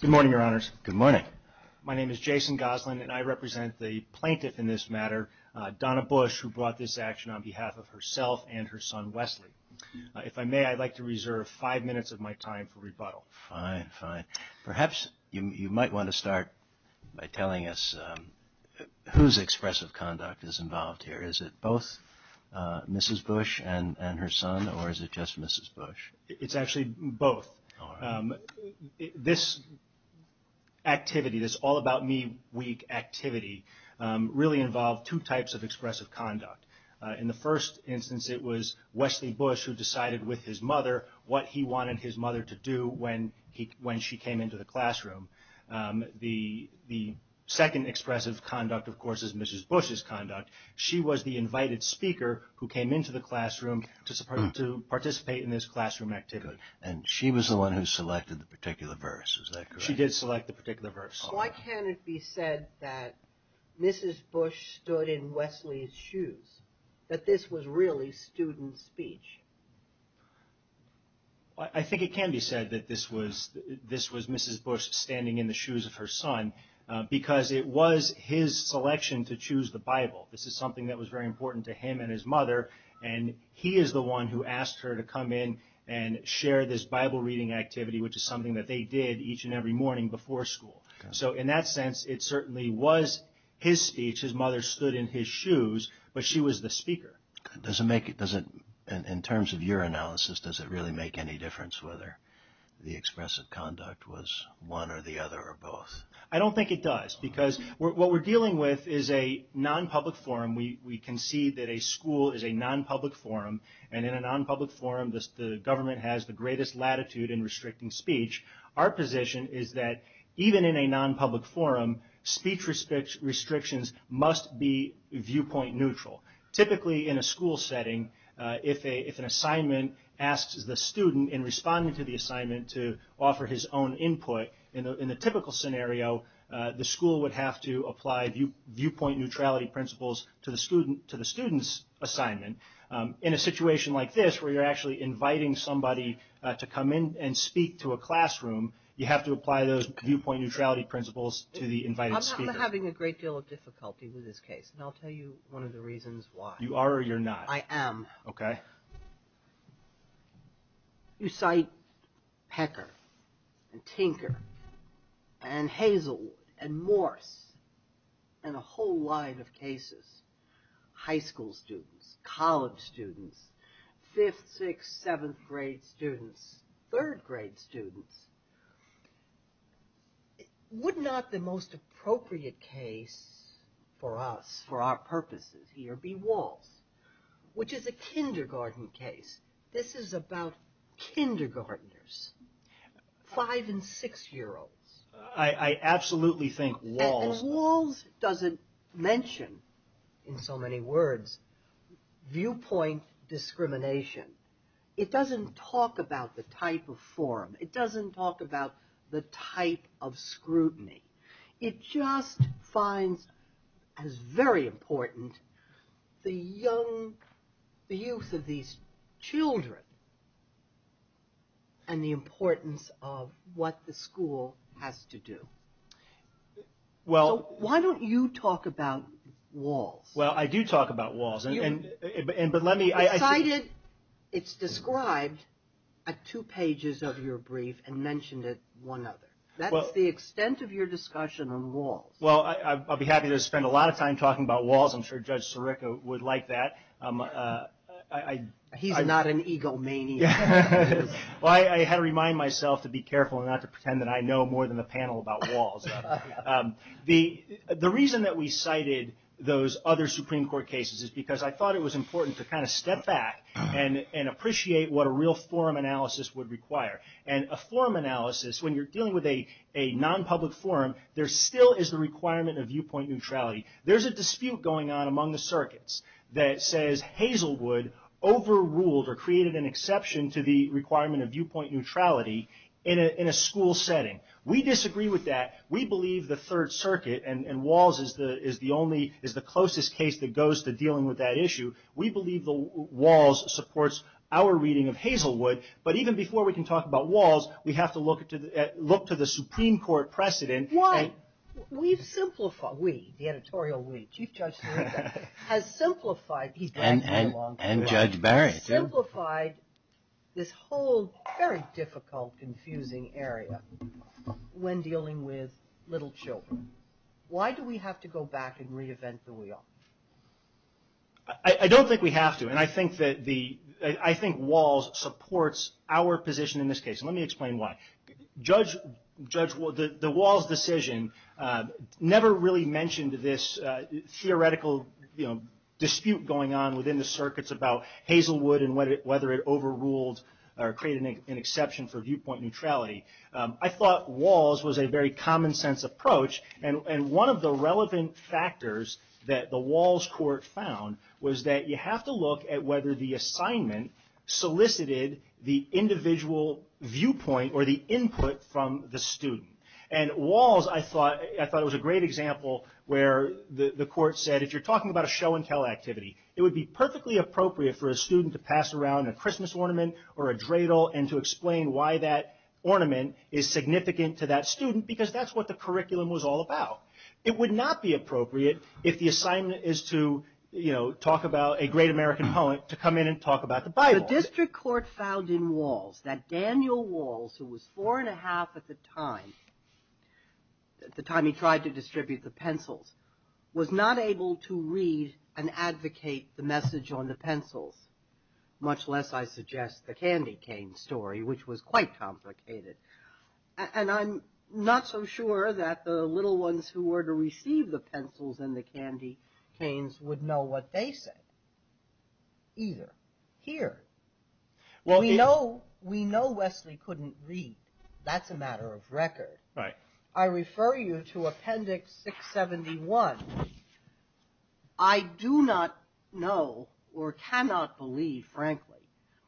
Good morning, Your Honors. Good morning. My name is Jason Goslin, and I represent the plaintiff in this matter, Donna Bush, who brought this action on behalf of herself and her son, Wesley. If I may, I'd like to reserve five minutes of my time for rebuttal. Fine, fine. Perhaps you might want to start by telling us whose expressive conduct is involved here. Is it both Mrs. Bush and her son, or is it just Mrs. Bush? It's actually both. This activity, this all-about-me week activity, really involved two types of expressive conduct. In the first instance, it was Wesley Bush who decided with his mother what he wanted his mother to do when she came into the classroom. The second expressive conduct, of course, is Mrs. Bush's conduct. She was the invited speaker who came into the classroom to participate in this classroom activity. Good. And she was the one who selected the particular verse. Is that correct? She did select the particular verse. Why can't it be said that Mrs. Bush stood in Wesley's shoes? That this was really student speech? I think it can be said that this was Mrs. Bush standing in the shoes of her son, because it was his selection to choose the Bible. This is something that was very important to him and his mother, and he is the one who asked her to come in and share this Bible-reading activity, which is something that they did each and every morning before school. So in that sense, it certainly was his speech. His mother stood in his shoes, but she was the speaker. In terms of your analysis, does it really make any difference whether the expressive conduct was one or the other or both? I don't think it does, because what we're dealing with is a non-public forum. We concede that a school is a non-public forum, and in a non-public forum, the government has the greatest latitude in restricting speech. Our position is that even in a non-public forum, speech restrictions must be viewpoint neutral. Typically, in a school setting, if an assignment asks the student in responding to the assignment to offer his own input, in the typical scenario, the school would have to apply viewpoint neutrality principles to the student's assignment. In a situation like this, where you're actually inviting somebody to come in and speak to a classroom, you have to apply those viewpoint neutrality principles to the invited speaker. I'm having a great deal of difficulty with this case, and I'll tell you one of the reasons why. You are or you're not? I am. Okay. You cite Pecker, and Tinker, and Hazelwood, and Morse, and a whole line of cases. High school students, college students, 5th, 6th, 7th grade students, 3rd grade students. Would not the most appropriate case for us, for our purposes here, be Walls, which is a kindergarten case. This is about kindergartners, 5 and 6 year olds. I absolutely think Walls. And Walls doesn't mention, in so many words, viewpoint discrimination. It doesn't talk about the type of forum. It doesn't talk about the type of scrutiny. It just finds, as very important, the youth of these children, and the importance of what the school has to do. Why don't you talk about Walls? Well, I do talk about Walls. But let me... It's described at two pages of your brief, and mentioned at one other. That's the extent of your discussion on Walls. Well, I'll be happy to spend a lot of time talking about Walls. I'm sure Judge Sirica would like that. He's not an egomaniac. Well, I had to remind myself to be careful, and not to pretend that I know more than the panel about Walls. The reason that we cited those other Supreme Court cases is because I thought it was important to kind of step back, and appreciate what a real forum analysis would require. A forum analysis, when you're dealing with a non-public forum, there still is the requirement of viewpoint neutrality. There's a dispute going on among the circuits that says Hazelwood overruled, or created an exception to the requirement of viewpoint neutrality in a school setting. We disagree with that. We believe the Third Circuit, and Walls is the closest case that goes to dealing with that issue. We believe that Walls supports our reading of Hazelwood. But even before we can talk about Walls, we have to look to the Supreme Court precedent. Why? We've simplified, we, the editorial we, Chief Judge Sirica, has simplified, he's been here a long time, has simplified this whole very difficult, confusing area when dealing with little children. Why do we have to go back and reinvent the wheel? I don't think we have to, and I think Walls supports our position in this case. Let me explain why. The Walls decision never really mentioned this theoretical dispute going on within the circuits about Hazelwood, and whether it overruled, or created an exception for viewpoint neutrality. I thought Walls was a very common sense approach, and one of the relevant factors that the Walls court found was that you have to look at whether the assignment solicited the individual viewpoint or the input from the student. And Walls, I thought, I thought it was a great example where the court said, if you're talking about a show and tell activity, it would be perfectly appropriate for a student to pass around a Christmas ornament, or a dreidel, and to explain why that ornament is significant to that student, because that's what the curriculum was all about. It would not be appropriate if the assignment is to, you know, talk about a great American poet, to come in and talk about the Bible. The district court found in Walls that Daniel Walls, who was four and a half at the time, the time he tried to distribute the pencils, was not able to read and advocate the message on the pencils, much less, I suggest, the candy cane story, which was quite complicated. And I'm not so sure that the little ones who were to receive the pencils and the candy canes would know what they said, either, here. We know Wesley couldn't read. That's a matter of record. I refer you to Appendix 671. I do not know, or cannot believe, frankly,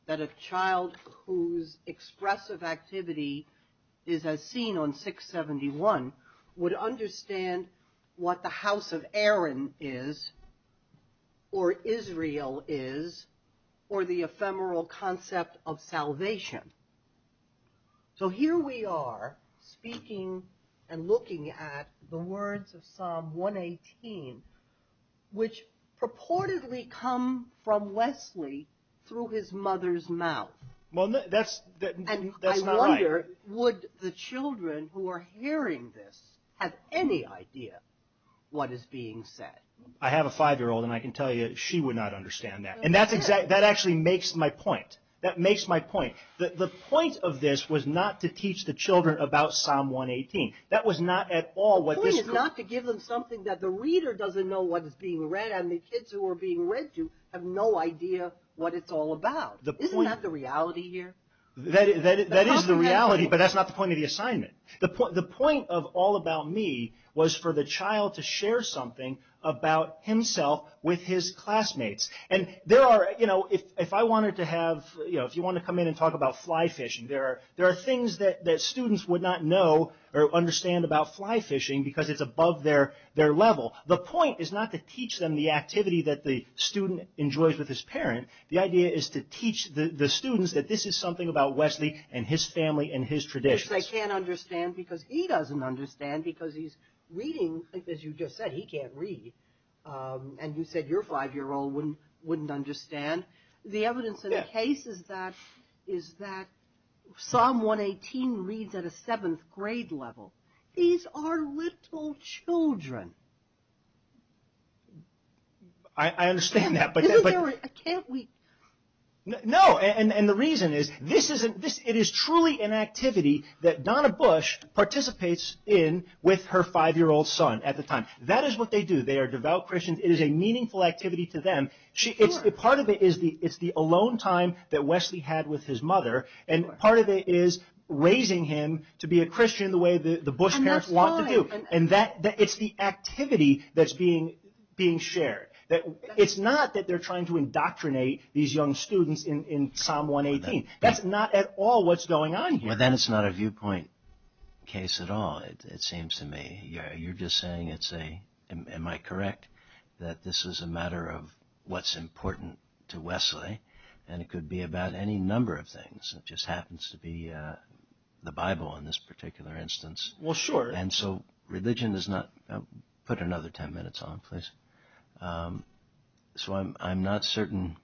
that a child whose expressive activity is as seen on 671 would understand what the House of Aaron is, or Israel is, or the ephemeral concept of salvation. So here we are, speaking and looking at the words of Psalm 118, which purportedly come from Wesley through his mother's mouth. Well, that's not right. And I wonder, would the children who are hearing this have any idea what is being said? I have a five-year-old, and I can tell you, she would not understand that. And that actually makes my point. That makes my point. The point of this was not to teach the children about Psalm 118. That was not at all what this... The point is not to give them something that the reader doesn't know what is being read, and the kids who are being read to have no idea what it's all about. Isn't that the reality here? That is the reality, but that's not the point of the assignment. The point of All About Me was for the child to share something about himself with his classmates. If you want to come in and talk about fly fishing, there are things that students would not know or understand about fly fishing because it's above their level. The point is not to teach the activity that the student enjoys with his parent. The idea is to teach the students that this is something about Wesley and his family and his traditions. Which they can't understand because he doesn't understand because he's reading, as you just said, he can't read. And you said your five-year-old wouldn't understand. The evidence in the case is that Psalm 118 reads at a seventh grade level. These are little children. I understand that, but the reason is it is truly an activity that Donna Bush participates in with her five-year-old son at the time. That is what they do. They are devout Christians. It is a meaningful activity to them. Part of it is the alone time that Wesley had with his mother, and part of it is raising him to be a Christian the way the Bush parents want to do. It's the activity that's being shared. It's not that they're trying to indoctrinate these young students in Psalm 118. That's not at all what's going on here. But then it's not a viewpoint case at all, it seems to me. You're just saying, am I correct, that this is a matter of what's important to Wesley, and it could be about any number of things. It just happens to be the Bible in this particular instance. Well, sure. So religion is not... Put another ten minutes on, please. So I'm not certain,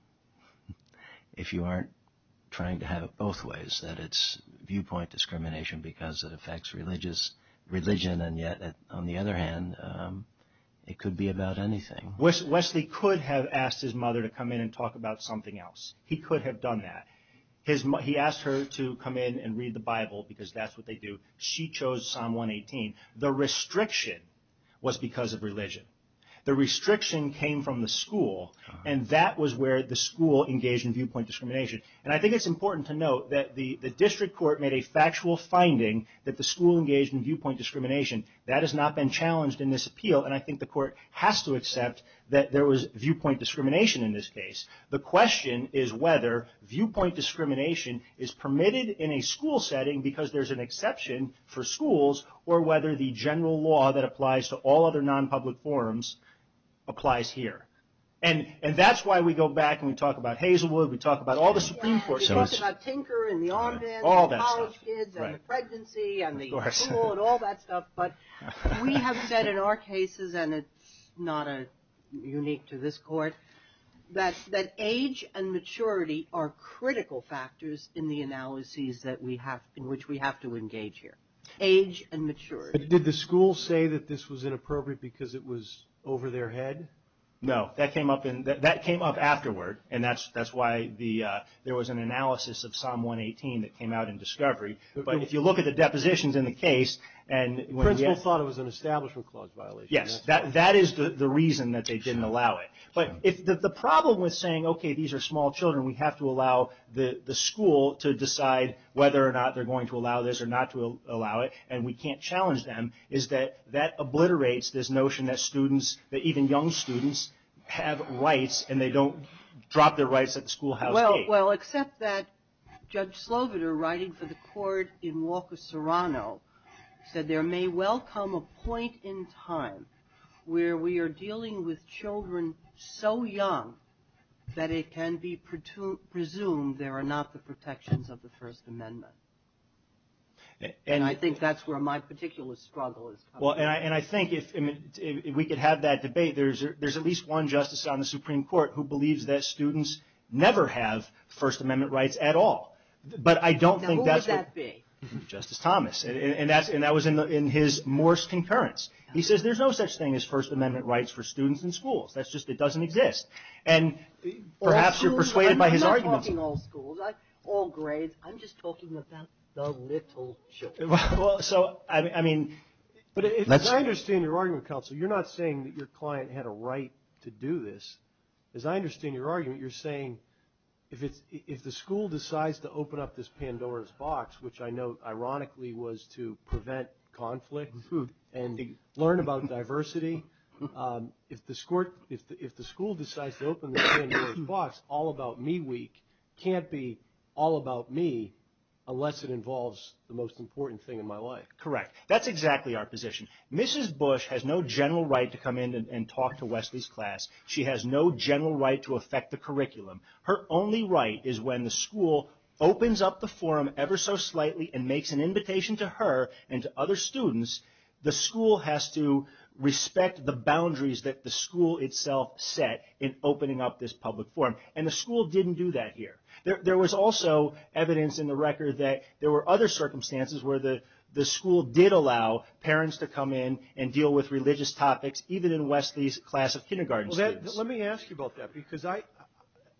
if you aren't trying to have it both ways, that it's viewpoint discrimination because it affects religion, and yet on the other hand, it could be about anything. Wesley could have asked his mother to come in and talk about something else. He could have done that. He asked her to come in and read the Bible because that's what they do. She chose Psalm 118. The restriction was because of religion. The restriction came from the school, and that was where the school engaged in viewpoint discrimination. And I think it's important to note that the district court made a factual finding that the school engaged in viewpoint discrimination. That has not been challenged in this appeal, and I think the court has to accept that there was viewpoint discrimination in this case. The question is whether viewpoint discrimination is permitted in a school setting because there's an exception for schools, or whether the general law that applies to all other non-public forums applies here. And that's why we go back and we talk about Hazelwood, we talk about all the Supreme Courts. We talk about Tinker, and the Armbands, and the college kids, and the pregnancy, and the school, and all that stuff, but we have said in our cases, and it's not unique to this court, that age and maturity are critical factors in the analyses in which we have to engage here. Age and maturity. Did the school say that this was inappropriate because it was over their head? No. That came up afterward, and that's why there was an analysis of Psalm 118 that came out in discovery. But if you look at the depositions in the case, and when we asked... The principal thought it was an establishment clause violation. Yes. That is the reason that they didn't allow it. But the problem with saying, okay, these are small children, we have to allow the school to decide whether or not they're going to allow it or not to allow it, and we can't challenge them, is that that obliterates this notion that students, that even young students, have rights, and they don't drop their rights at the schoolhouse gate. Well, except that Judge Sloviter, writing for the court in Walker-Serrano, said there may well come a point in time where we are dealing with children so young that it can be presumed there are not the protections of the First Amendment. And I think that's where my particular struggle is coming from. And I think if we could have that debate, there's at least one justice on the Supreme Court who believes that students never have First Amendment rights at all. But I don't think that's... Now, who would that be? Justice Thomas. And that was in his Morse concurrence. He says there's no such thing as First Amendment rights for students in schools. That's just, it doesn't exist. And perhaps... I'm not talking all schools, all grades. I'm just talking about the little children. So, I mean, but as I understand your argument, counsel, you're not saying that your client had a right to do this. As I understand your argument, you're saying, if the school decides to open up this Pandora's box, which I know, ironically, was to prevent conflict and learn about diversity, if the school decides to open the Pandora's box, all about me week, can't be all about me unless it involves the most important thing in my life. Correct. That's exactly our position. Mrs. Bush has no general right to come in and talk to Wesley's class. She has no general right to affect the curriculum. Her only right is when the school opens up the forum ever so slightly and makes an invitation to her and other students, the school has to respect the boundaries that the school itself set in opening up this public forum. And the school didn't do that here. There was also evidence in the record that there were other circumstances where the school did allow parents to come in and deal with religious topics, even in Wesley's class of kindergarten students. Let me ask you about that, because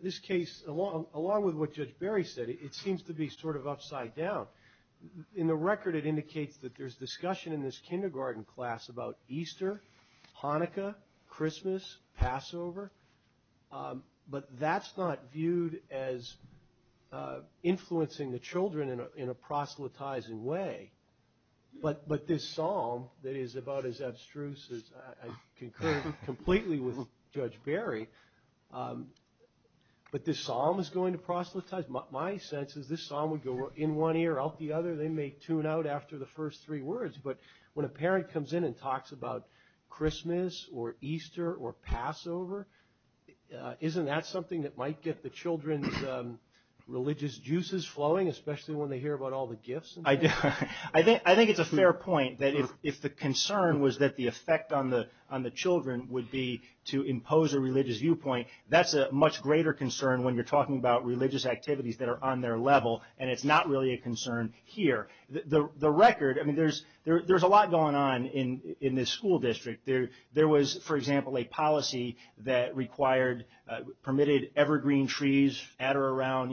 this case, along with what Judge Barry said, it seems to be sort of upside down. In the record, it indicates that there's discussion in this kindergarten class about Easter, Hanukkah, Christmas, Passover, but that's not viewed as influencing the children in a proselytizing way. But this psalm that is about as abstruse as I concur completely with Judge Barry, but this psalm is going to proselytize? My sense is this psalm would go in one ear, out the other. They may tune out after the first three words, but when a parent comes in and talks about Christmas or Easter or Passover, isn't that something that might get the children's religious juices flowing, especially when they hear about all the gifts? I think it's a fair point that if the concern was that the effect on the children would be to impose a religious viewpoint, that's a much greater concern when you're talking about religious activities that are on their level, and it's not really a concern here. The record, I mean, there's a lot going on in this school district. There was, for example, a policy that permitted evergreen trees at or around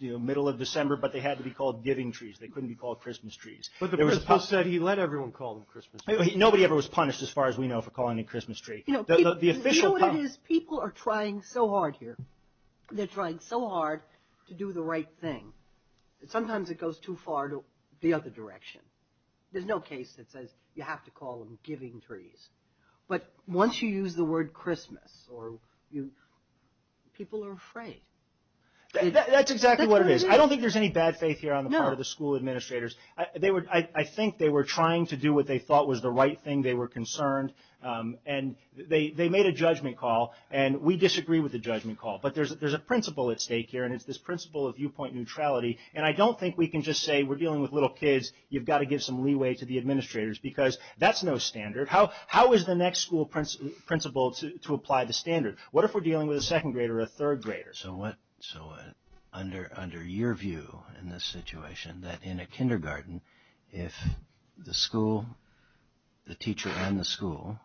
the middle of December, but they had to be called giving trees. They couldn't be called Christmas trees. But the principal said he let everyone call them Christmas trees. Nobody ever was punished, as far as we know, for calling it Christmas tree. The official They're trying so hard to do the right thing. Sometimes it goes too far to the other direction. There's no case that says you have to call them giving trees, but once you use the word Christmas, people are afraid. That's exactly what it is. I don't think there's any bad faith here on the part of the school administrators. I think they were trying to do what they thought was the right thing. They were concerned, and they made a judgment call, and we disagree with the judgment call, but there's a principal at stake here, and it's this principal of viewpoint neutrality, and I don't think we can just say we're dealing with little kids. You've got to give some leeway to the administrators because that's no standard. How is the next school principal to apply the standard? What if we're dealing with a second grader or a third grader? Under your view in this situation, that in a kindergarten, if the school, the teacher and the school,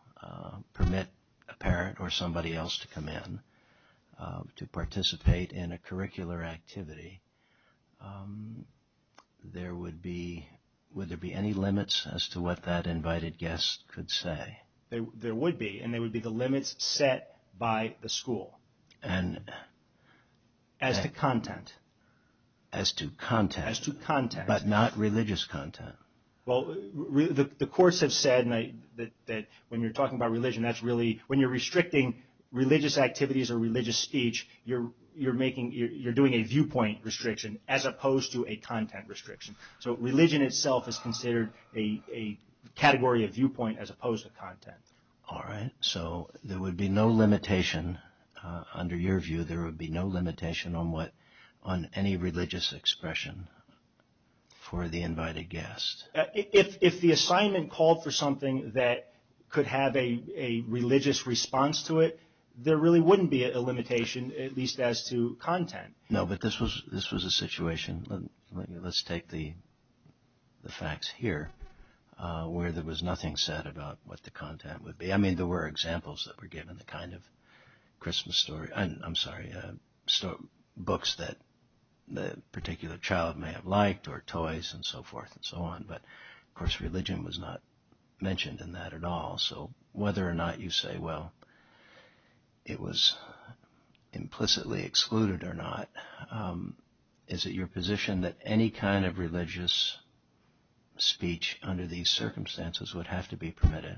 permit a parent or somebody else to come in to participate in a curricular activity, would there be any limits as to what that invited guest could say? There would be, and there would be the limits set by the school. As to content? As to content, but not religious content. Well, the courts have said that when you're talking about religion, that's really, when you're restricting religious activities or religious speech, you're doing a viewpoint restriction as opposed to a content restriction. So religion itself is considered a category of viewpoint as opposed to content. All right, so there would be no limitation, under your view, there would be no limitation on what, on any religious expression for the invited guest. If the assignment called for something that could have a religious response to it, there really wouldn't be a limitation, at least as to content. No, but this was a situation, let's take the facts here, where there was nothing said about what the content would be. I mean, there were examples that were given, the kind of Christmas story, I'm sorry, books that the particular child may have liked or toys and so forth and so on, but of course religion was not mentioned in that at all. So whether or not you say, well, it was implicitly excluded or not, is it your position that any kind of religious speech under these circumstances would have to be permitted?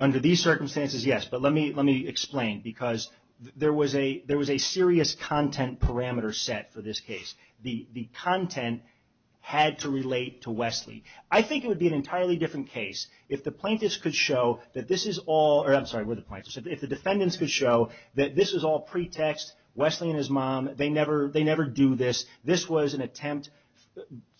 Under these circumstances, yes, but let me explain because there was a serious content parameter set for this case. The content had to relate to Wesley. I think it would be an entirely different case if the plaintiffs could show that this is all, or I'm sorry, if the defendants could show that this is all pretext, Wesley and his mom, they never do this, this was an attempt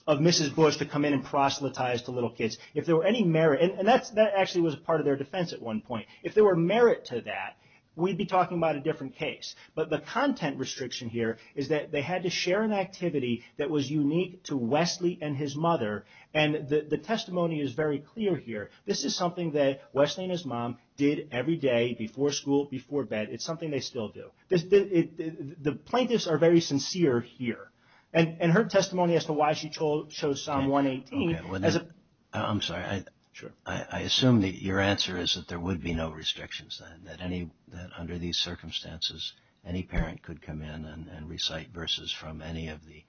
of Mrs. Bush to come in and proselytize to little kids. If there were any merit, and that actually was part of their defense at one point, if there were merit to that, we'd be talking about a different case, but the content restriction here is that they had to share an activity that was unique to Wesley and his mother, and the testimony is very clear here. This is something that Wesley and his mom did every day, before school, before bed, it's something they still do. The plaintiffs are very sincere here, and her testimony as to why she chose Psalm 118... I'm sorry, I assume that your answer is that there would be no restrictions, that under these circumstances, any parent could come in and recite verses from any of the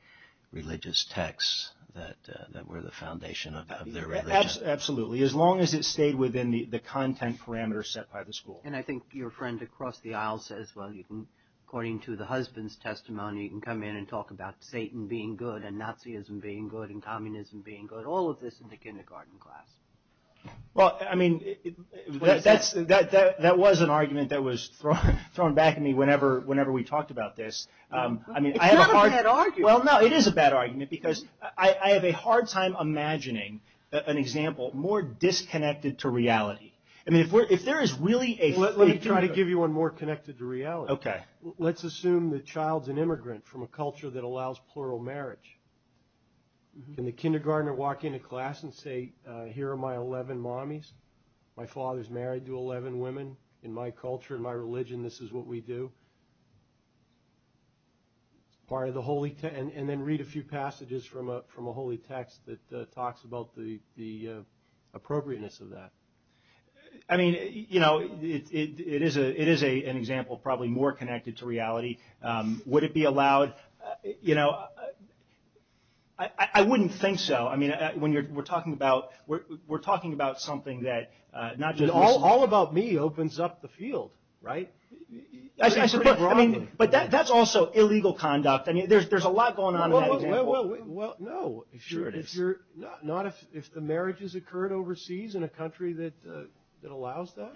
religious texts that were the foundation of their religion? Yes, absolutely, as long as it stayed within the content parameters set by the school. And I think your friend across the aisle says, well, according to the husband's testimony, you can come in and talk about Satan being good, and Nazism being good, and Communism being good, all of this in the kindergarten class. Well, I mean, that was an argument that was thrown back at me whenever we talked about this. It's not a bad argument. Well, no, it is a bad argument, because I have a hard time imagining an example more disconnected to reality. I mean, if there is really a... Let me try to give you one more connected to reality. Okay. Let's assume the child's an immigrant from a culture that allows plural marriage. Can the kindergartner walk into class and say, here are my 11 mommies, my father's married to 11 women. In my culture, in my religion, this is what we do. And then read a few passages from a holy text that talks about the appropriateness of that. I mean, you know, it is an example probably more connected to reality. Would it be allowed... I wouldn't think so. I mean, we're talking about something that not just... All about me opens up the field, right? But that's also illegal conduct. I mean, there's a lot going on in that example. Well, no. Sure it is. Not if the marriage has occurred overseas in a country that allows that.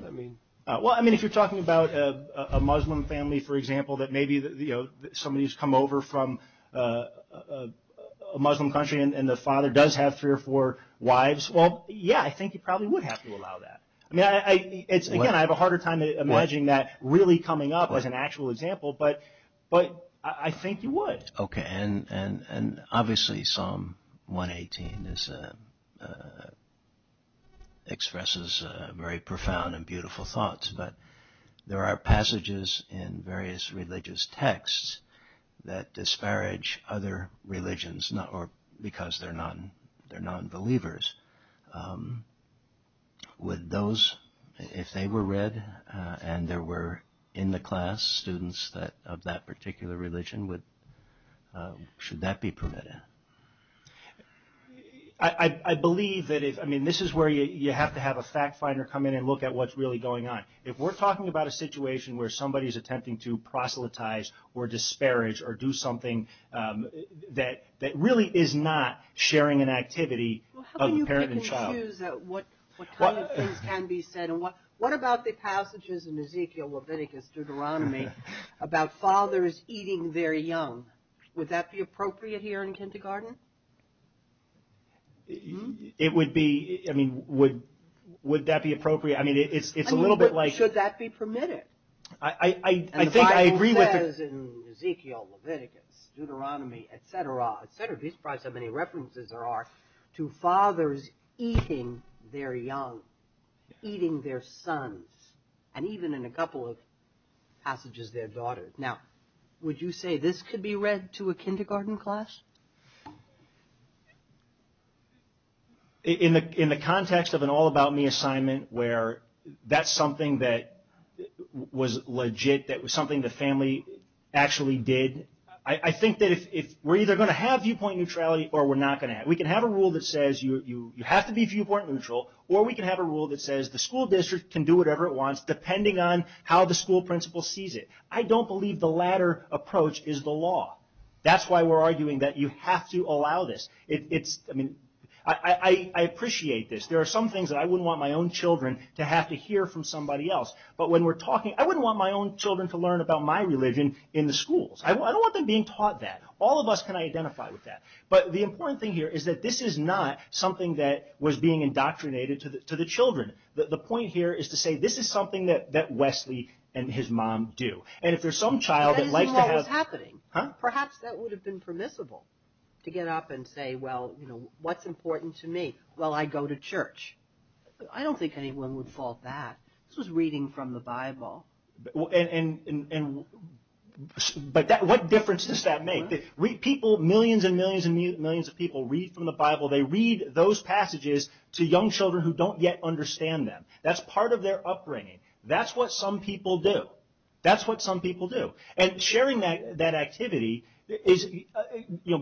Well, I mean, if you're talking about a Muslim family, for example, that maybe somebody's come over from a Muslim country and the father does have three or four wives, well, yeah, I think you probably would have to allow that. I mean, again, I have a harder time imagining that really coming up as an actual example, but I think you would. Okay, and obviously Psalm 118 expresses very profound and beautiful thoughts, but there are passages in various religious texts that disparage other religions because they're non-believers. Would those, if they were read and there were in the class students of that particular religion, should that be permitted? I believe that if... I mean, this is where you have to have a fact finder come in and look at what's really going on. If we're talking about a situation where somebody's attempting to proselytize or disparage or do something that really is not sharing an activity of the parent and child. Well, how can you pick and choose what kind of things can be said? What about the passages in Ezekiel Leviticus Deuteronomy about fathers eating their young? Would that be appropriate here in kindergarten? It would be... I mean, would that be appropriate? I mean, it's a little bit like... The Bible says in Ezekiel Leviticus, Deuteronomy, et cetera, et cetera. There's probably so many references there are to fathers eating their young, eating their sons, and even in a couple of passages their daughters. Now, would you say this could be read to a kindergarten class? In the context of an all about me assignment where that's something that was legit, that was something the family actually did, I think that we're either going to have viewpoint neutrality or we're not going to have. We can have a rule that says you have to be viewpoint neutral, or we can have a rule that says the school district can do whatever it wants depending on how the school principal sees it. I don't believe the latter approach is the law. That's why we're arguing that you have to allow this. I mean, I appreciate this. There are some things that I wouldn't want my own children to have to hear from somebody else, but when we're talking... I wouldn't want my own children to learn about my religion in the schools. I don't want them being taught that. All of us can identify with that, but the important thing here is that this is not something that was being indoctrinated to the children. The point here is to say this is something that Wesley and his mom do, and if there's some child that likes to have... That isn't what was happening. Huh? Perhaps that would have been permissible to get up and say, well, what's important to me? Well, I go to church. I don't think anyone would fault that. This was reading from the Bible. What difference does that make? Millions and millions and millions of people read from the Bible. They read those passages to young children who don't yet understand them. That's part of their upbringing. That's what some people do. That's what some people do. Sharing that activity is...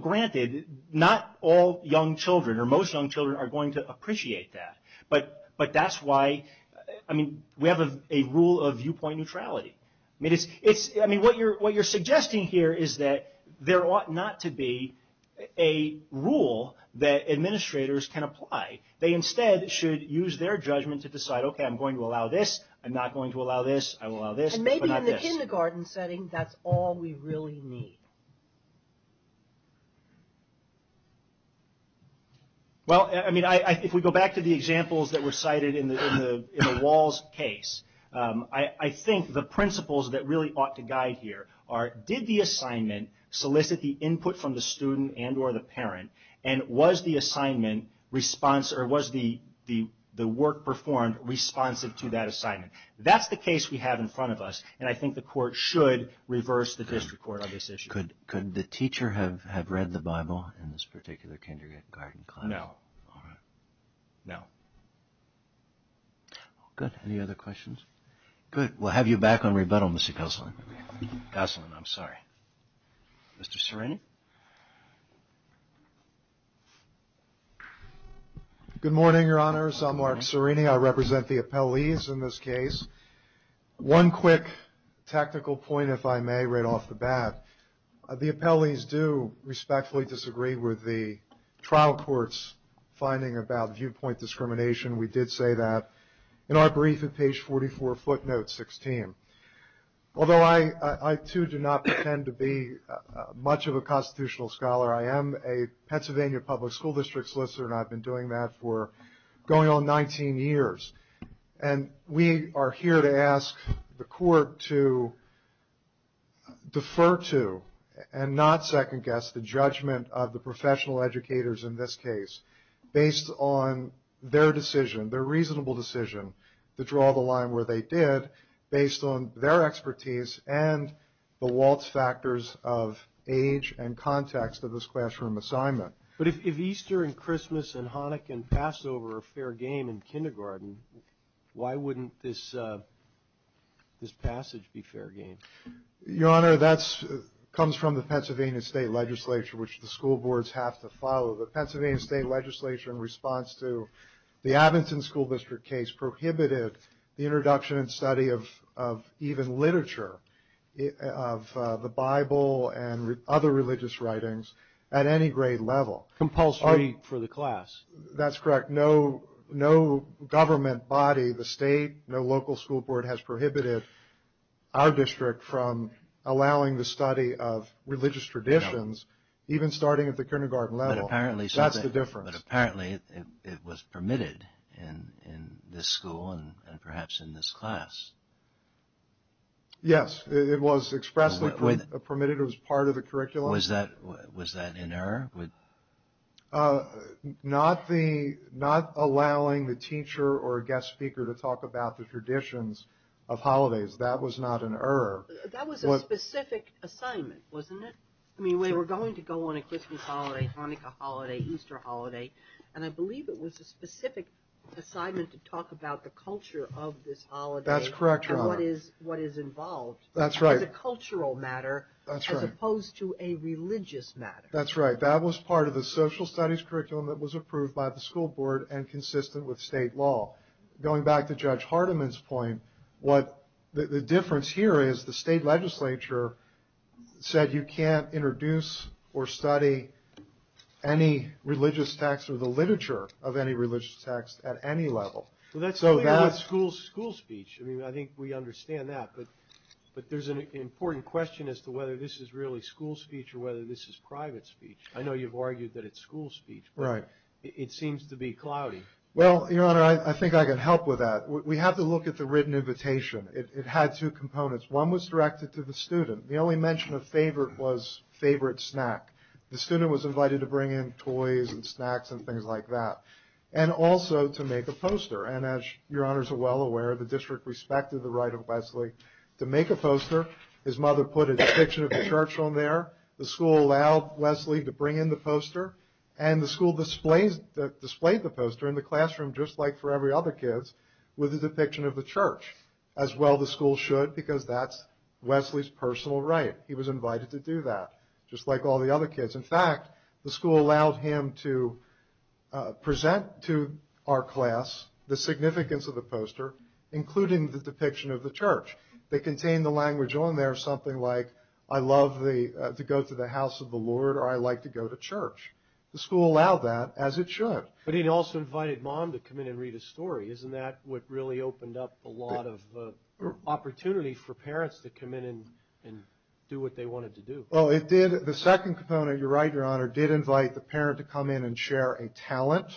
Granted, not all young children or most young children are going to appreciate that, but that's why we have a rule of viewpoint neutrality. What you're suggesting here is that there ought not to be a rule that administrators can apply. They instead should use their judgment to decide, okay, I'm going to allow this. I'm not going to allow this. I will allow this, but not this. Maybe in the kindergarten setting, that's all we really need. Well, if we go back to the examples that were cited in the Walls case, I think the principles that really ought to guide here are, did the assignment solicit the input from the student and or the parent, and was the assignment response or was the work performed responsive to that assignment? That's the case we have in front of us, and I think the Could the teacher have read the Bible in this particular kindergarten class? No. All right. No. Good. Any other questions? Good. We'll have you back on rebuttal, Mr. Kosselin. Kosselin, I'm sorry. Mr. Serrini? Good morning, Your Honors. I'm Mark Serrini. I represent the appellees in this case. One quick technical point, if I may, right off the bat. The appellees do respectfully disagree with the trial court's finding about viewpoint discrimination. We did say that in our brief at page 44, footnote 16. Although I, too, do not pretend to be much of a constitutional scholar, I am a Pennsylvania public school district solicitor, and I've been doing that for going on 19 years. And we are here to ask the court to defer to and not second-guess the judgment of the professional educators in this case, based on their decision, their reasonable decision to draw the line where they did, based on their expertise and the Waltz factors of age and context of this classroom assignment. But if Easter and Christmas and Hanukkah and Passover are fair game in kindergarten, why wouldn't this passage be fair game? Your Honor, that comes from the Pennsylvania State Legislature, which the school boards have to follow. The Pennsylvania State Legislature, in response to the Abington School District case, prohibited the introduction and study of even literature, of the Bible and other religious writings, at any grade level. Compulsory for the class. That's correct. No government body, the state, no local school board, has prohibited our district from allowing the study of religious traditions, even starting at the kindergarten level. That's the difference. But apparently it was permitted in this school and perhaps in this class. Yes, it was expressly permitted. It was part of the curriculum. Was that an error? Not allowing the teacher or guest speaker to talk about the traditions of holidays, that was not an error. That was a specific assignment, wasn't it? I mean, we were going to go on a Christmas holiday, Hanukkah holiday, Easter holiday, and I believe it was a specific assignment to talk about the culture of this holiday. That's correct, Your Honor. And what is involved. That's right. As a cultural matter. That's right. As opposed to a religious matter. That's right. That was part of the social studies curriculum that was approved by the school board and consistent with state law. Going back to Judge Hardiman's point, the difference here is the state legislature said you can't introduce or study any religious text or the literature of any religious text at any level. Well, that's something about school speech. I mean, I think we understand that, but there's an important question as to whether this is really school speech or whether this is private speech. I know you've argued that it's school speech. Right. It seems to be cloudy. Well, Your Honor, I think I can help with that. We have to look at the written invitation. It had two components. One was directed to the student. The only mention of favorite was favorite snack. The student was invited to bring in toys and snacks and things like that, and also to make a poster. And as Your Honors are well aware, the district respected the right of Wesley to make a poster. His mother put a depiction of the church on there. The school allowed Wesley to bring in the poster, and the school displayed the poster in the classroom, just like for every other kid, with a depiction of the church, as well the school should, because that's Wesley's personal right. He was invited to do that, just like all the other kids. In fact, the school allowed him to present to our class the significance of the poster, including the depiction of the church. They contained the language on there, something like, I love to go to the house of the Lord, or I like to go to church. The school allowed that, as it should. But it also invited mom to come in and read a story. Isn't that what really opened up a lot of opportunity for parents to come in and do what they wanted to do? Well, it did. The second component, you're right, Your Honor, did invite the parent to come in and share a talent,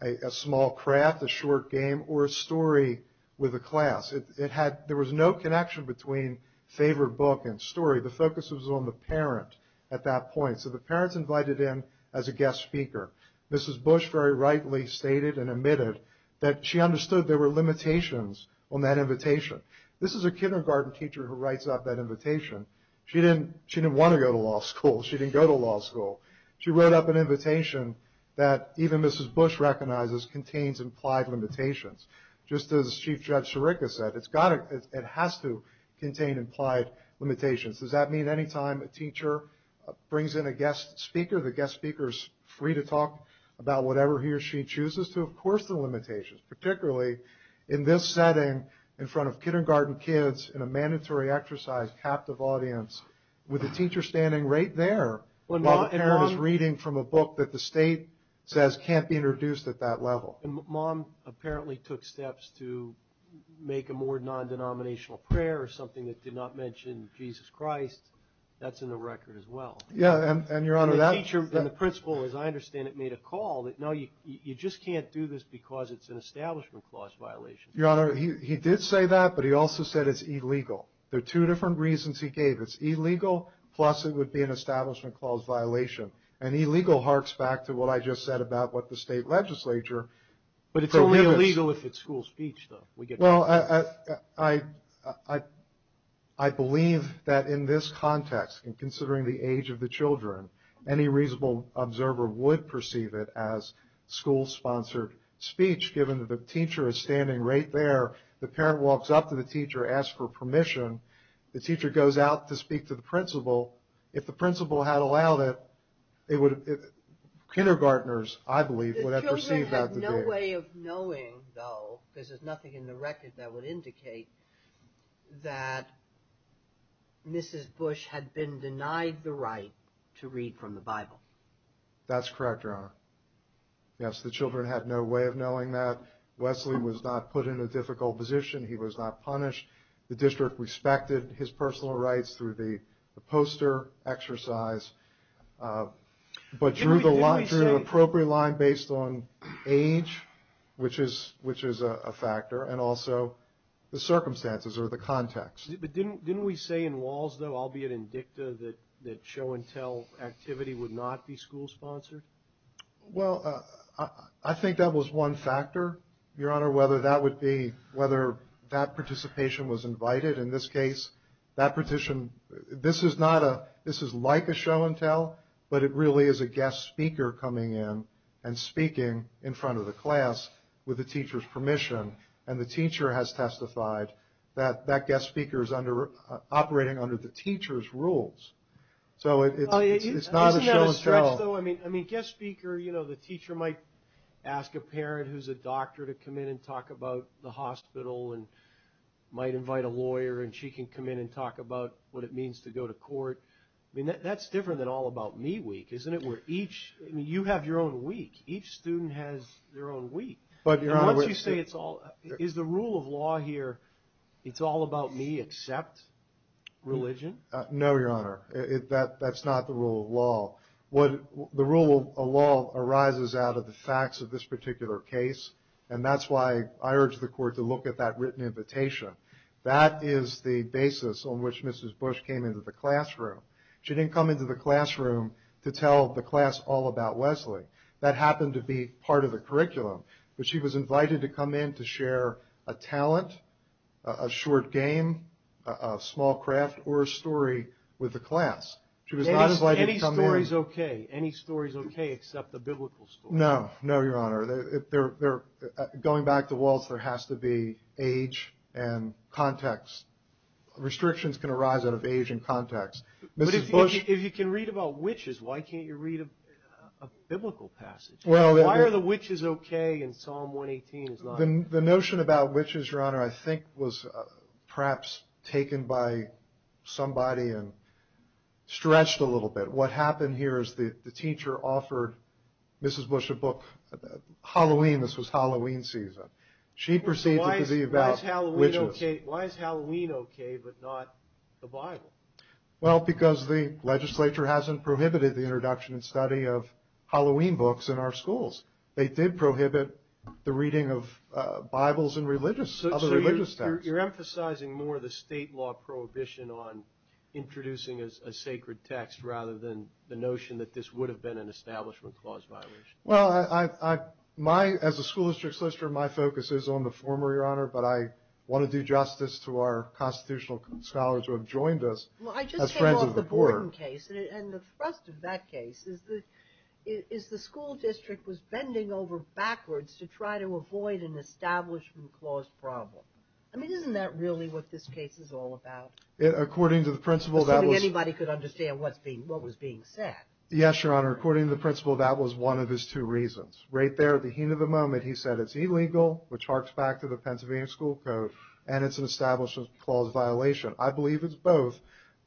a small craft, a short game, or a story with the class. There was no connection between favorite book and story. The focus was on the parent at that point. So the parents invited in as a guest speaker. Mrs. Bush very rightly stated and admitted that she understood there were limitations on that invitation. This is a She didn't want to go to law school. She didn't go to law school. She wrote up an invitation that even Mrs. Bush recognizes contains implied limitations. Just as Chief Judge Sirica said, it has to contain implied limitations. Does that mean any time a teacher brings in a guest speaker, the guest speaker is free to talk about whatever he or she chooses, to of course the limitations. Particularly in this setting, in front of kindergarten kids, in a mandatory exercise, captive audience, with a teacher standing right there while the parent is reading from a book that the state says can't be introduced at that level. Mom apparently took steps to make a more non-denominational prayer or something that did not mention Jesus Christ. That's in the record as well. Yeah, and Your Honor, that And the teacher and the principal, as I understand it, made a call that no, you just can't do this because it's an establishment clause violation. Your Honor, he did say that, but he also said it's illegal. There are two different reasons he gave. It's illegal, plus it would be an establishment clause violation. And illegal harks back to what I just said about what the state legislature But it's only illegal if it's school speech, though. Well, I believe that in this context, and considering the age of the children, any reasonable observer would perceive it as school-sponsored speech, given that the teacher is standing right there. The parent walks up to the teacher, asks for permission. The teacher goes out to speak to the principal. If the principal had allowed it, kindergarteners, I believe, would have perceived that to be illegal. The children had no way of knowing, though, because there's nothing in the record that would indicate that Mrs. Bush had been denied the right to read from the Bible. That's correct, Your Honor. Yes, the children had no way of knowing that. Wesley was not put in a difficult position. He was not punished. The district respected his personal rights through the poster exercise, but drew the appropriate line based on age, which is a the circumstances or the context. But didn't we say in Walls, though, albeit in Dicta, that show-and-tell activity would not be school-sponsored? Well, I think that was one factor, Your Honor, whether that participation was invited. In this case, this is like a show-and-tell, but it really is a guest speaker coming in and that guest speaker is operating under the teacher's rules. So it's not a show-and-tell. Isn't that a stretch, though? I mean, guest speaker, you know, the teacher might ask a parent who's a doctor to come in and talk about the hospital and might invite a lawyer and she can come in and talk about what it means to go to court. I mean, that's different than All About Me Week, isn't it? You have your own week. Each student has their own rule of law here. It's All About Me except religion? No, Your Honor. That's not the rule of law. The rule of law arises out of the facts of this particular case, and that's why I urge the Court to look at that written invitation. That is the basis on which Mrs. Bush came into the classroom. She didn't come into the classroom to tell the class all about Wesley. That happened to be part of the curriculum. But she was invited to come in to share a talent, a short game, a small craft, or a story with the class. She was not invited to come in... Any story's okay. Any story's okay except the biblical story. No. No, Your Honor. Going back to Waltz, there has to be age and context. Restrictions can arise out of age and context. Mrs. Bush... But if you can read about witches, why can't you read a biblical passage? Why are the witches okay in Psalm 118? The notion about witches, Your Honor, I think was perhaps taken by somebody and stretched a little bit. What happened here is the teacher offered Mrs. Bush a book. Halloween, this was Halloween season. She proceeded to be about witches. Why is Halloween okay but not the Bible? Well, because the legislature hasn't prohibited the introduction and study of Halloween books in our schools. They did prohibit the reading of Bibles and other religious texts. So you're emphasizing more the state law prohibition on introducing a sacred text rather than the notion that this would have been an establishment clause violation. Well, as a school district solicitor, my focus is on the former, Your Honor, but I want to do justice to our constitutional scholars who have joined us as friends of the poor. And the thrust of that case is the school district was bending over backwards to try to avoid an establishment clause problem. I mean, isn't that really what this case is all about? According to the principal, that was... Assuming anybody could understand what was being said. Yes, Your Honor. According to the principal, that was one of his two reasons. Right there at the heen of the moment, he said it's illegal, which harks back to the Pennsylvania School Code, and it's an establishment clause violation. I believe it's both,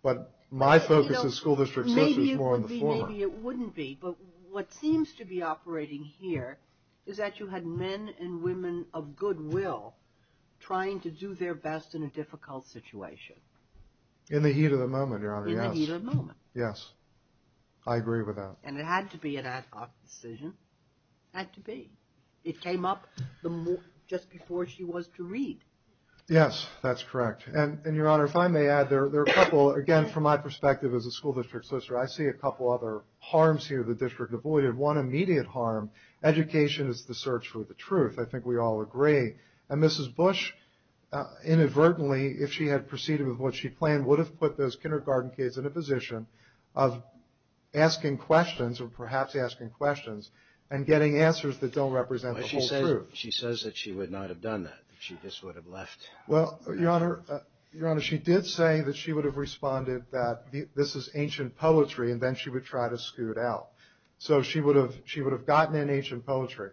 but my focus is... Maybe it would be, maybe it wouldn't be, but what seems to be operating here is that you had men and women of goodwill trying to do their best in a difficult situation. In the heen of the moment, Your Honor, yes. In the heen of the moment. Yes. I agree with that. And it had to be an ad hoc decision. Had to be. It came up just before she was to read. Yes, that's correct. And Your Honor, if I may add, there are a couple, again, from my role as District Solicitor, I see a couple other harms here the district avoided. One immediate harm, education is the search for the truth. I think we all agree. And Mrs. Bush, inadvertently, if she had proceeded with what she planned, would have put those kindergarten kids in a position of asking questions, or perhaps asking questions, and getting answers that don't represent the whole truth. She says that she would not have done that. She just would have left. Well, Your Honor, she did say that she would have responded that this is ancient poetry, and then she would try to scoot out. So she would have gotten in ancient poetry.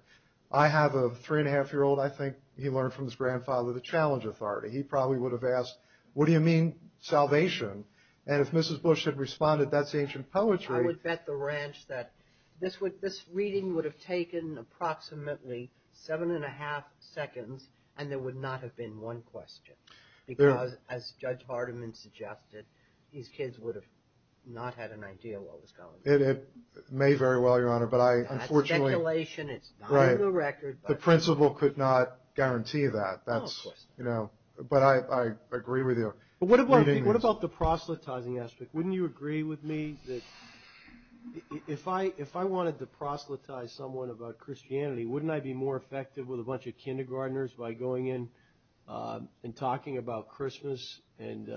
I have a three-and-a-half-year-old, I think he learned from his grandfather, the challenge authority. He probably would have asked, what do you mean, salvation? And if Mrs. Bush had responded that's ancient poetry. I would bet the ranch that this reading would have taken approximately seven-and-a-half seconds, and there would not have been one question. Because, as Judge Vardaman suggested, these kids would have not had an idea what was going on. It may very well, Your Honor. That's speculation. It's not on the record. The principal could not guarantee that. No question. But I agree with you. But what about the proselytizing aspect? Wouldn't you agree with me that if I wanted to talk to kindergarteners by going in and talking about Christmas and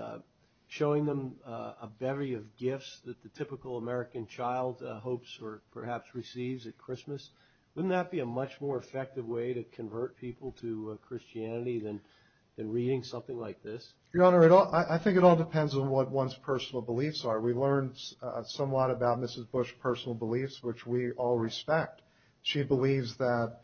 showing them a bevy of gifts that the typical American child hopes or perhaps receives at Christmas, wouldn't that be a much more effective way to convert people to Christianity than reading something like this? Your Honor, I think it all depends on what one's personal beliefs are. We learned somewhat about Mrs. Bush's personal beliefs, which we all respect. She believes that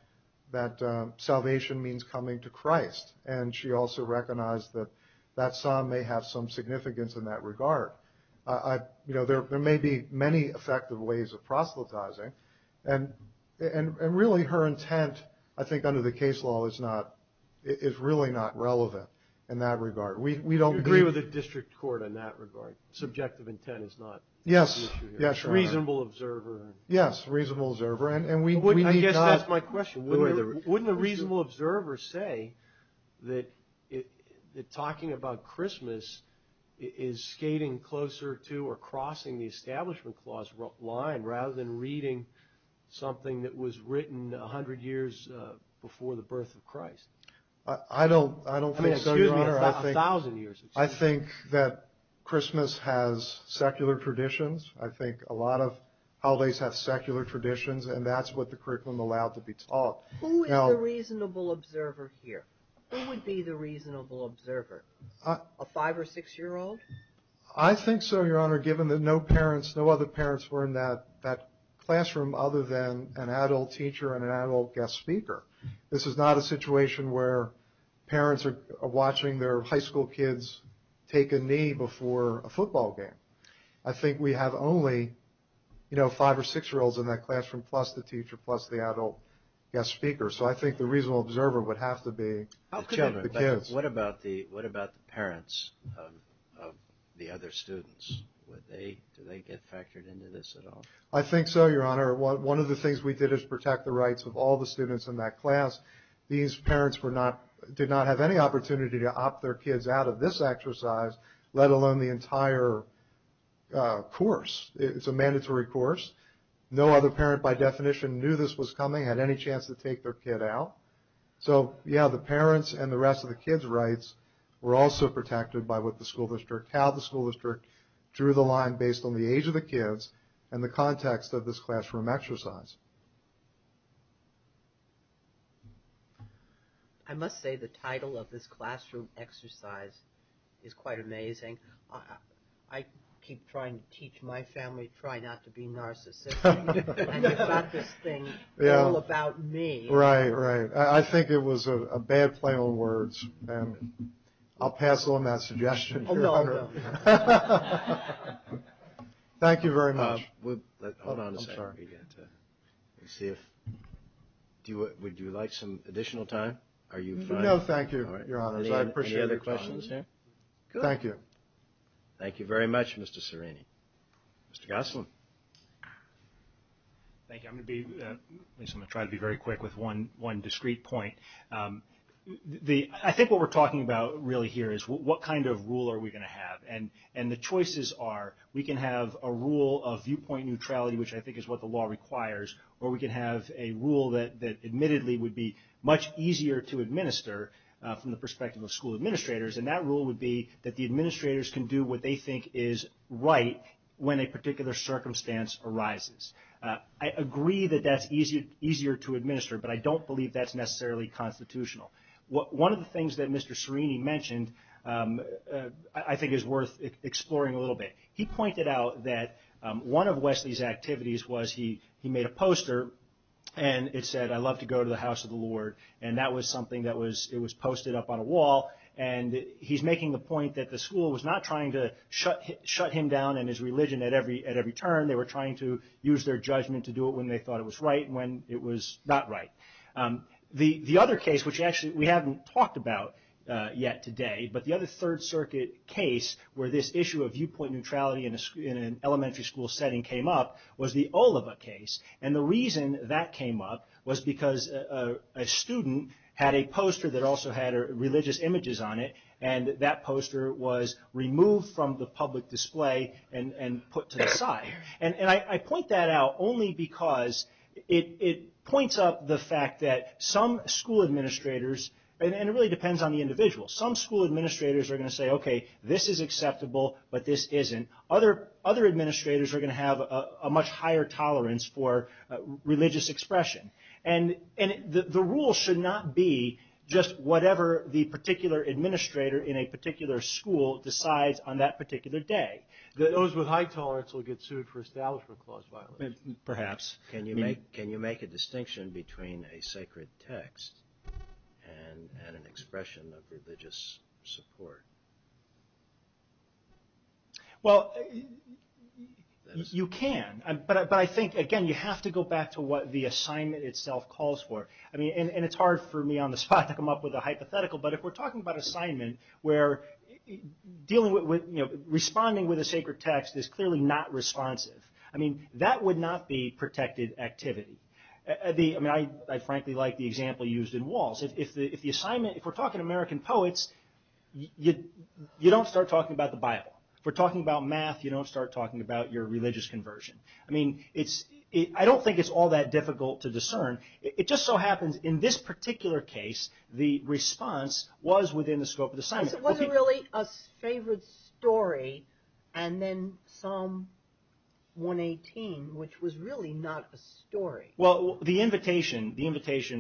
salvation means coming to Christ. And she also recognized that that psalm may have some significance in that regard. There may be many effective ways of proselytizing. And really, her intent, I think, under the case law is really not relevant in that regard. Do you agree with the district court in that regard? Subjective intent is not the issue here. Yes, Your Honor. Reasonable observer. Yes, reasonable observer. I guess that's my question. Wouldn't a reasonable observer say that talking about Christmas is skating closer to or crossing the Establishment Clause line rather than reading something that was written 100 years before the birth of Christ? I don't think so, Your Honor. I mean, excuse me, a thousand years. I think that Christmas has secular traditions. I think a lot of holidays have secular traditions, and that's what the curriculum allowed to be taught. Who is the reasonable observer here? Who would be the reasonable observer? A five- or six-year-old? I think so, Your Honor, given that no other parents were in that classroom other than an adult teacher and an adult guest speaker. This is not a situation where parents are high school kids take a knee before a football game. I think we have only five- or six-year-olds in that classroom, plus the teacher, plus the adult guest speaker. So I think the reasonable observer would have to be the children, the kids. What about the parents of the other students? Do they get factored into this at all? I think so, Your Honor. One of the things we did is protect the rights of all the students in that class. These parents did not have any opportunity to opt their kids out of this exercise, let alone the entire course. It's a mandatory course. No other parent, by definition, knew this was coming, had any chance to take their kid out. So, yeah, the parents and the rest of the kids' rights were also protected by what the school district, how the school district drew the line based on the age of the kids and the context of this classroom exercise. I must say the title of this classroom exercise is quite amazing. I keep trying to teach my family to try not to be narcissistic, and you've got this thing all about me. Right, right. I think it was a bad play on words, and I'll pass on that suggestion. Oh, no, no. Thank you very much. Hold on a second. Would you like some additional time? No, thank you, Your Honors. I appreciate your time. Any other questions here? Thank you. Thank you very much, Mr. Serrini. Mr. Goslin. Thank you. I'm going to try to be very quick with one discrete point. I think what we're talking about really here is what kind of rule are we going to have, and the choices are we can have a rule of viewpoint neutrality, which I think is what the law requires, or we can have a rule that admittedly would be much easier to administer from the perspective of school administrators, and that rule would be that the administrators can do what they think is right when a particular circumstance arises. I agree that that's easier to administer, but I don't believe that's necessarily constitutional. One of the things that Mr. Serrini mentioned I think is worth exploring a little bit. He pointed out that one of Wesley's activities was he made a poster, and it said, I love to go to the house of the Lord, and that was something that was posted up on a wall, and he's making the point that the school was not trying to shut him down in his religion at every turn. They were trying to use their judgment to do it when they thought it was right and when it was not right. The other case, which actually we haven't talked about yet today, but the other Third Circuit case where this issue of viewpoint neutrality in an elementary school setting came up was the Oliva case, and the reason that came up was because a student had a poster that also had religious images on it, and that poster was removed from the public display and put to the side. I point that out only because it points up the fact that some school administrators, and it really depends on the individual, some school administrators are going to say, okay, this is acceptable, but this isn't. Other administrators are going to have a much higher tolerance for religious expression, and the rule should not be just whatever the particular administrator in a particular school decides on that particular day. Those with high tolerance will get sued for establishment clause violence. Perhaps. Can you make a distinction between a sacred text and an expression of religious support? Well, you can, but I think, again, you have to go back to what the assignment itself calls for. It's hard for me on the spot to come up with a hypothetical, but if we're talking about assignment where responding with a sacred text is clearly not responsive, that would not be protected activity. I frankly like the example used in Walz. If we're talking American poets, you don't start talking about the Bible. If we're talking about math, you don't start talking about your religious conversion. I don't think it's all that difficult to discern. It just so happens in this particular case, the response was within the scope of the assignment. It wasn't really a favored story, and then Psalm 118, which was really not a story. Well, the invitation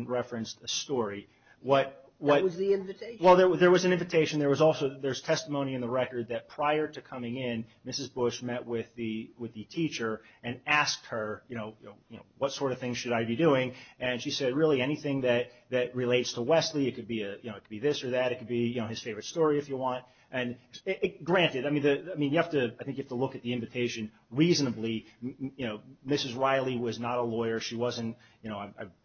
referenced a story. What was the invitation? Well, there was an invitation. There's testimony in the record that prior to coming in, Mrs. Bush met with the teacher and asked her what sort of things should I be doing, and she said, really, anything that relates to Wesley. It could be this or that. It could be his favorite story, if you want. Granted, I think you have to look at the invitation reasonably. Mrs. Riley was not a lawyer.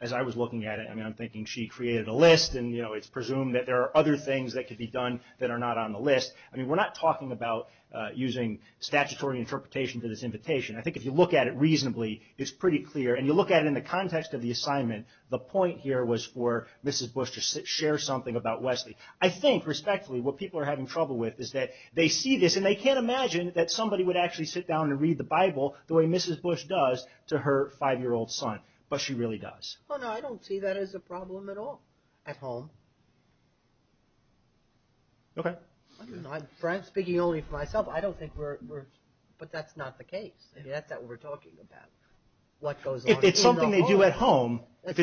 As I was looking at it, I'm thinking she created a list, and it's presumed that there are other things that could be done that are not on the list. We're not talking about using statutory interpretation for this invitation. I think if you look at it reasonably, it's pretty clear, and you look at it in the context of the assignment, the point here was for Mrs. Bush to share something about Wesley. I think, respectfully, what people are having trouble with is that they see this, and they can't imagine that somebody would actually sit down and read the Bible the way Mrs. Bush does to her five-year-old son, but she really does. I don't see that as a problem at all at home. Speaking only for myself, I don't think we're... But that's not the case. That's not what we're talking about. If it's something they do at home, in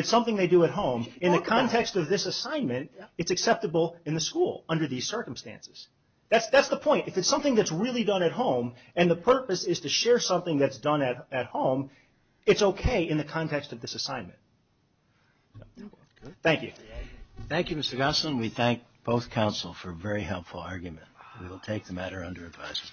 the context of this assignment, it's acceptable in the school under these circumstances. That's the point. If it's something that's really done at home, and the purpose is to share something that's done at home, it's okay in the context of this assignment. Thank you. Thank you, Mr. Gosselin. We thank both counsel for a very helpful argument. We will take the matter under advisement.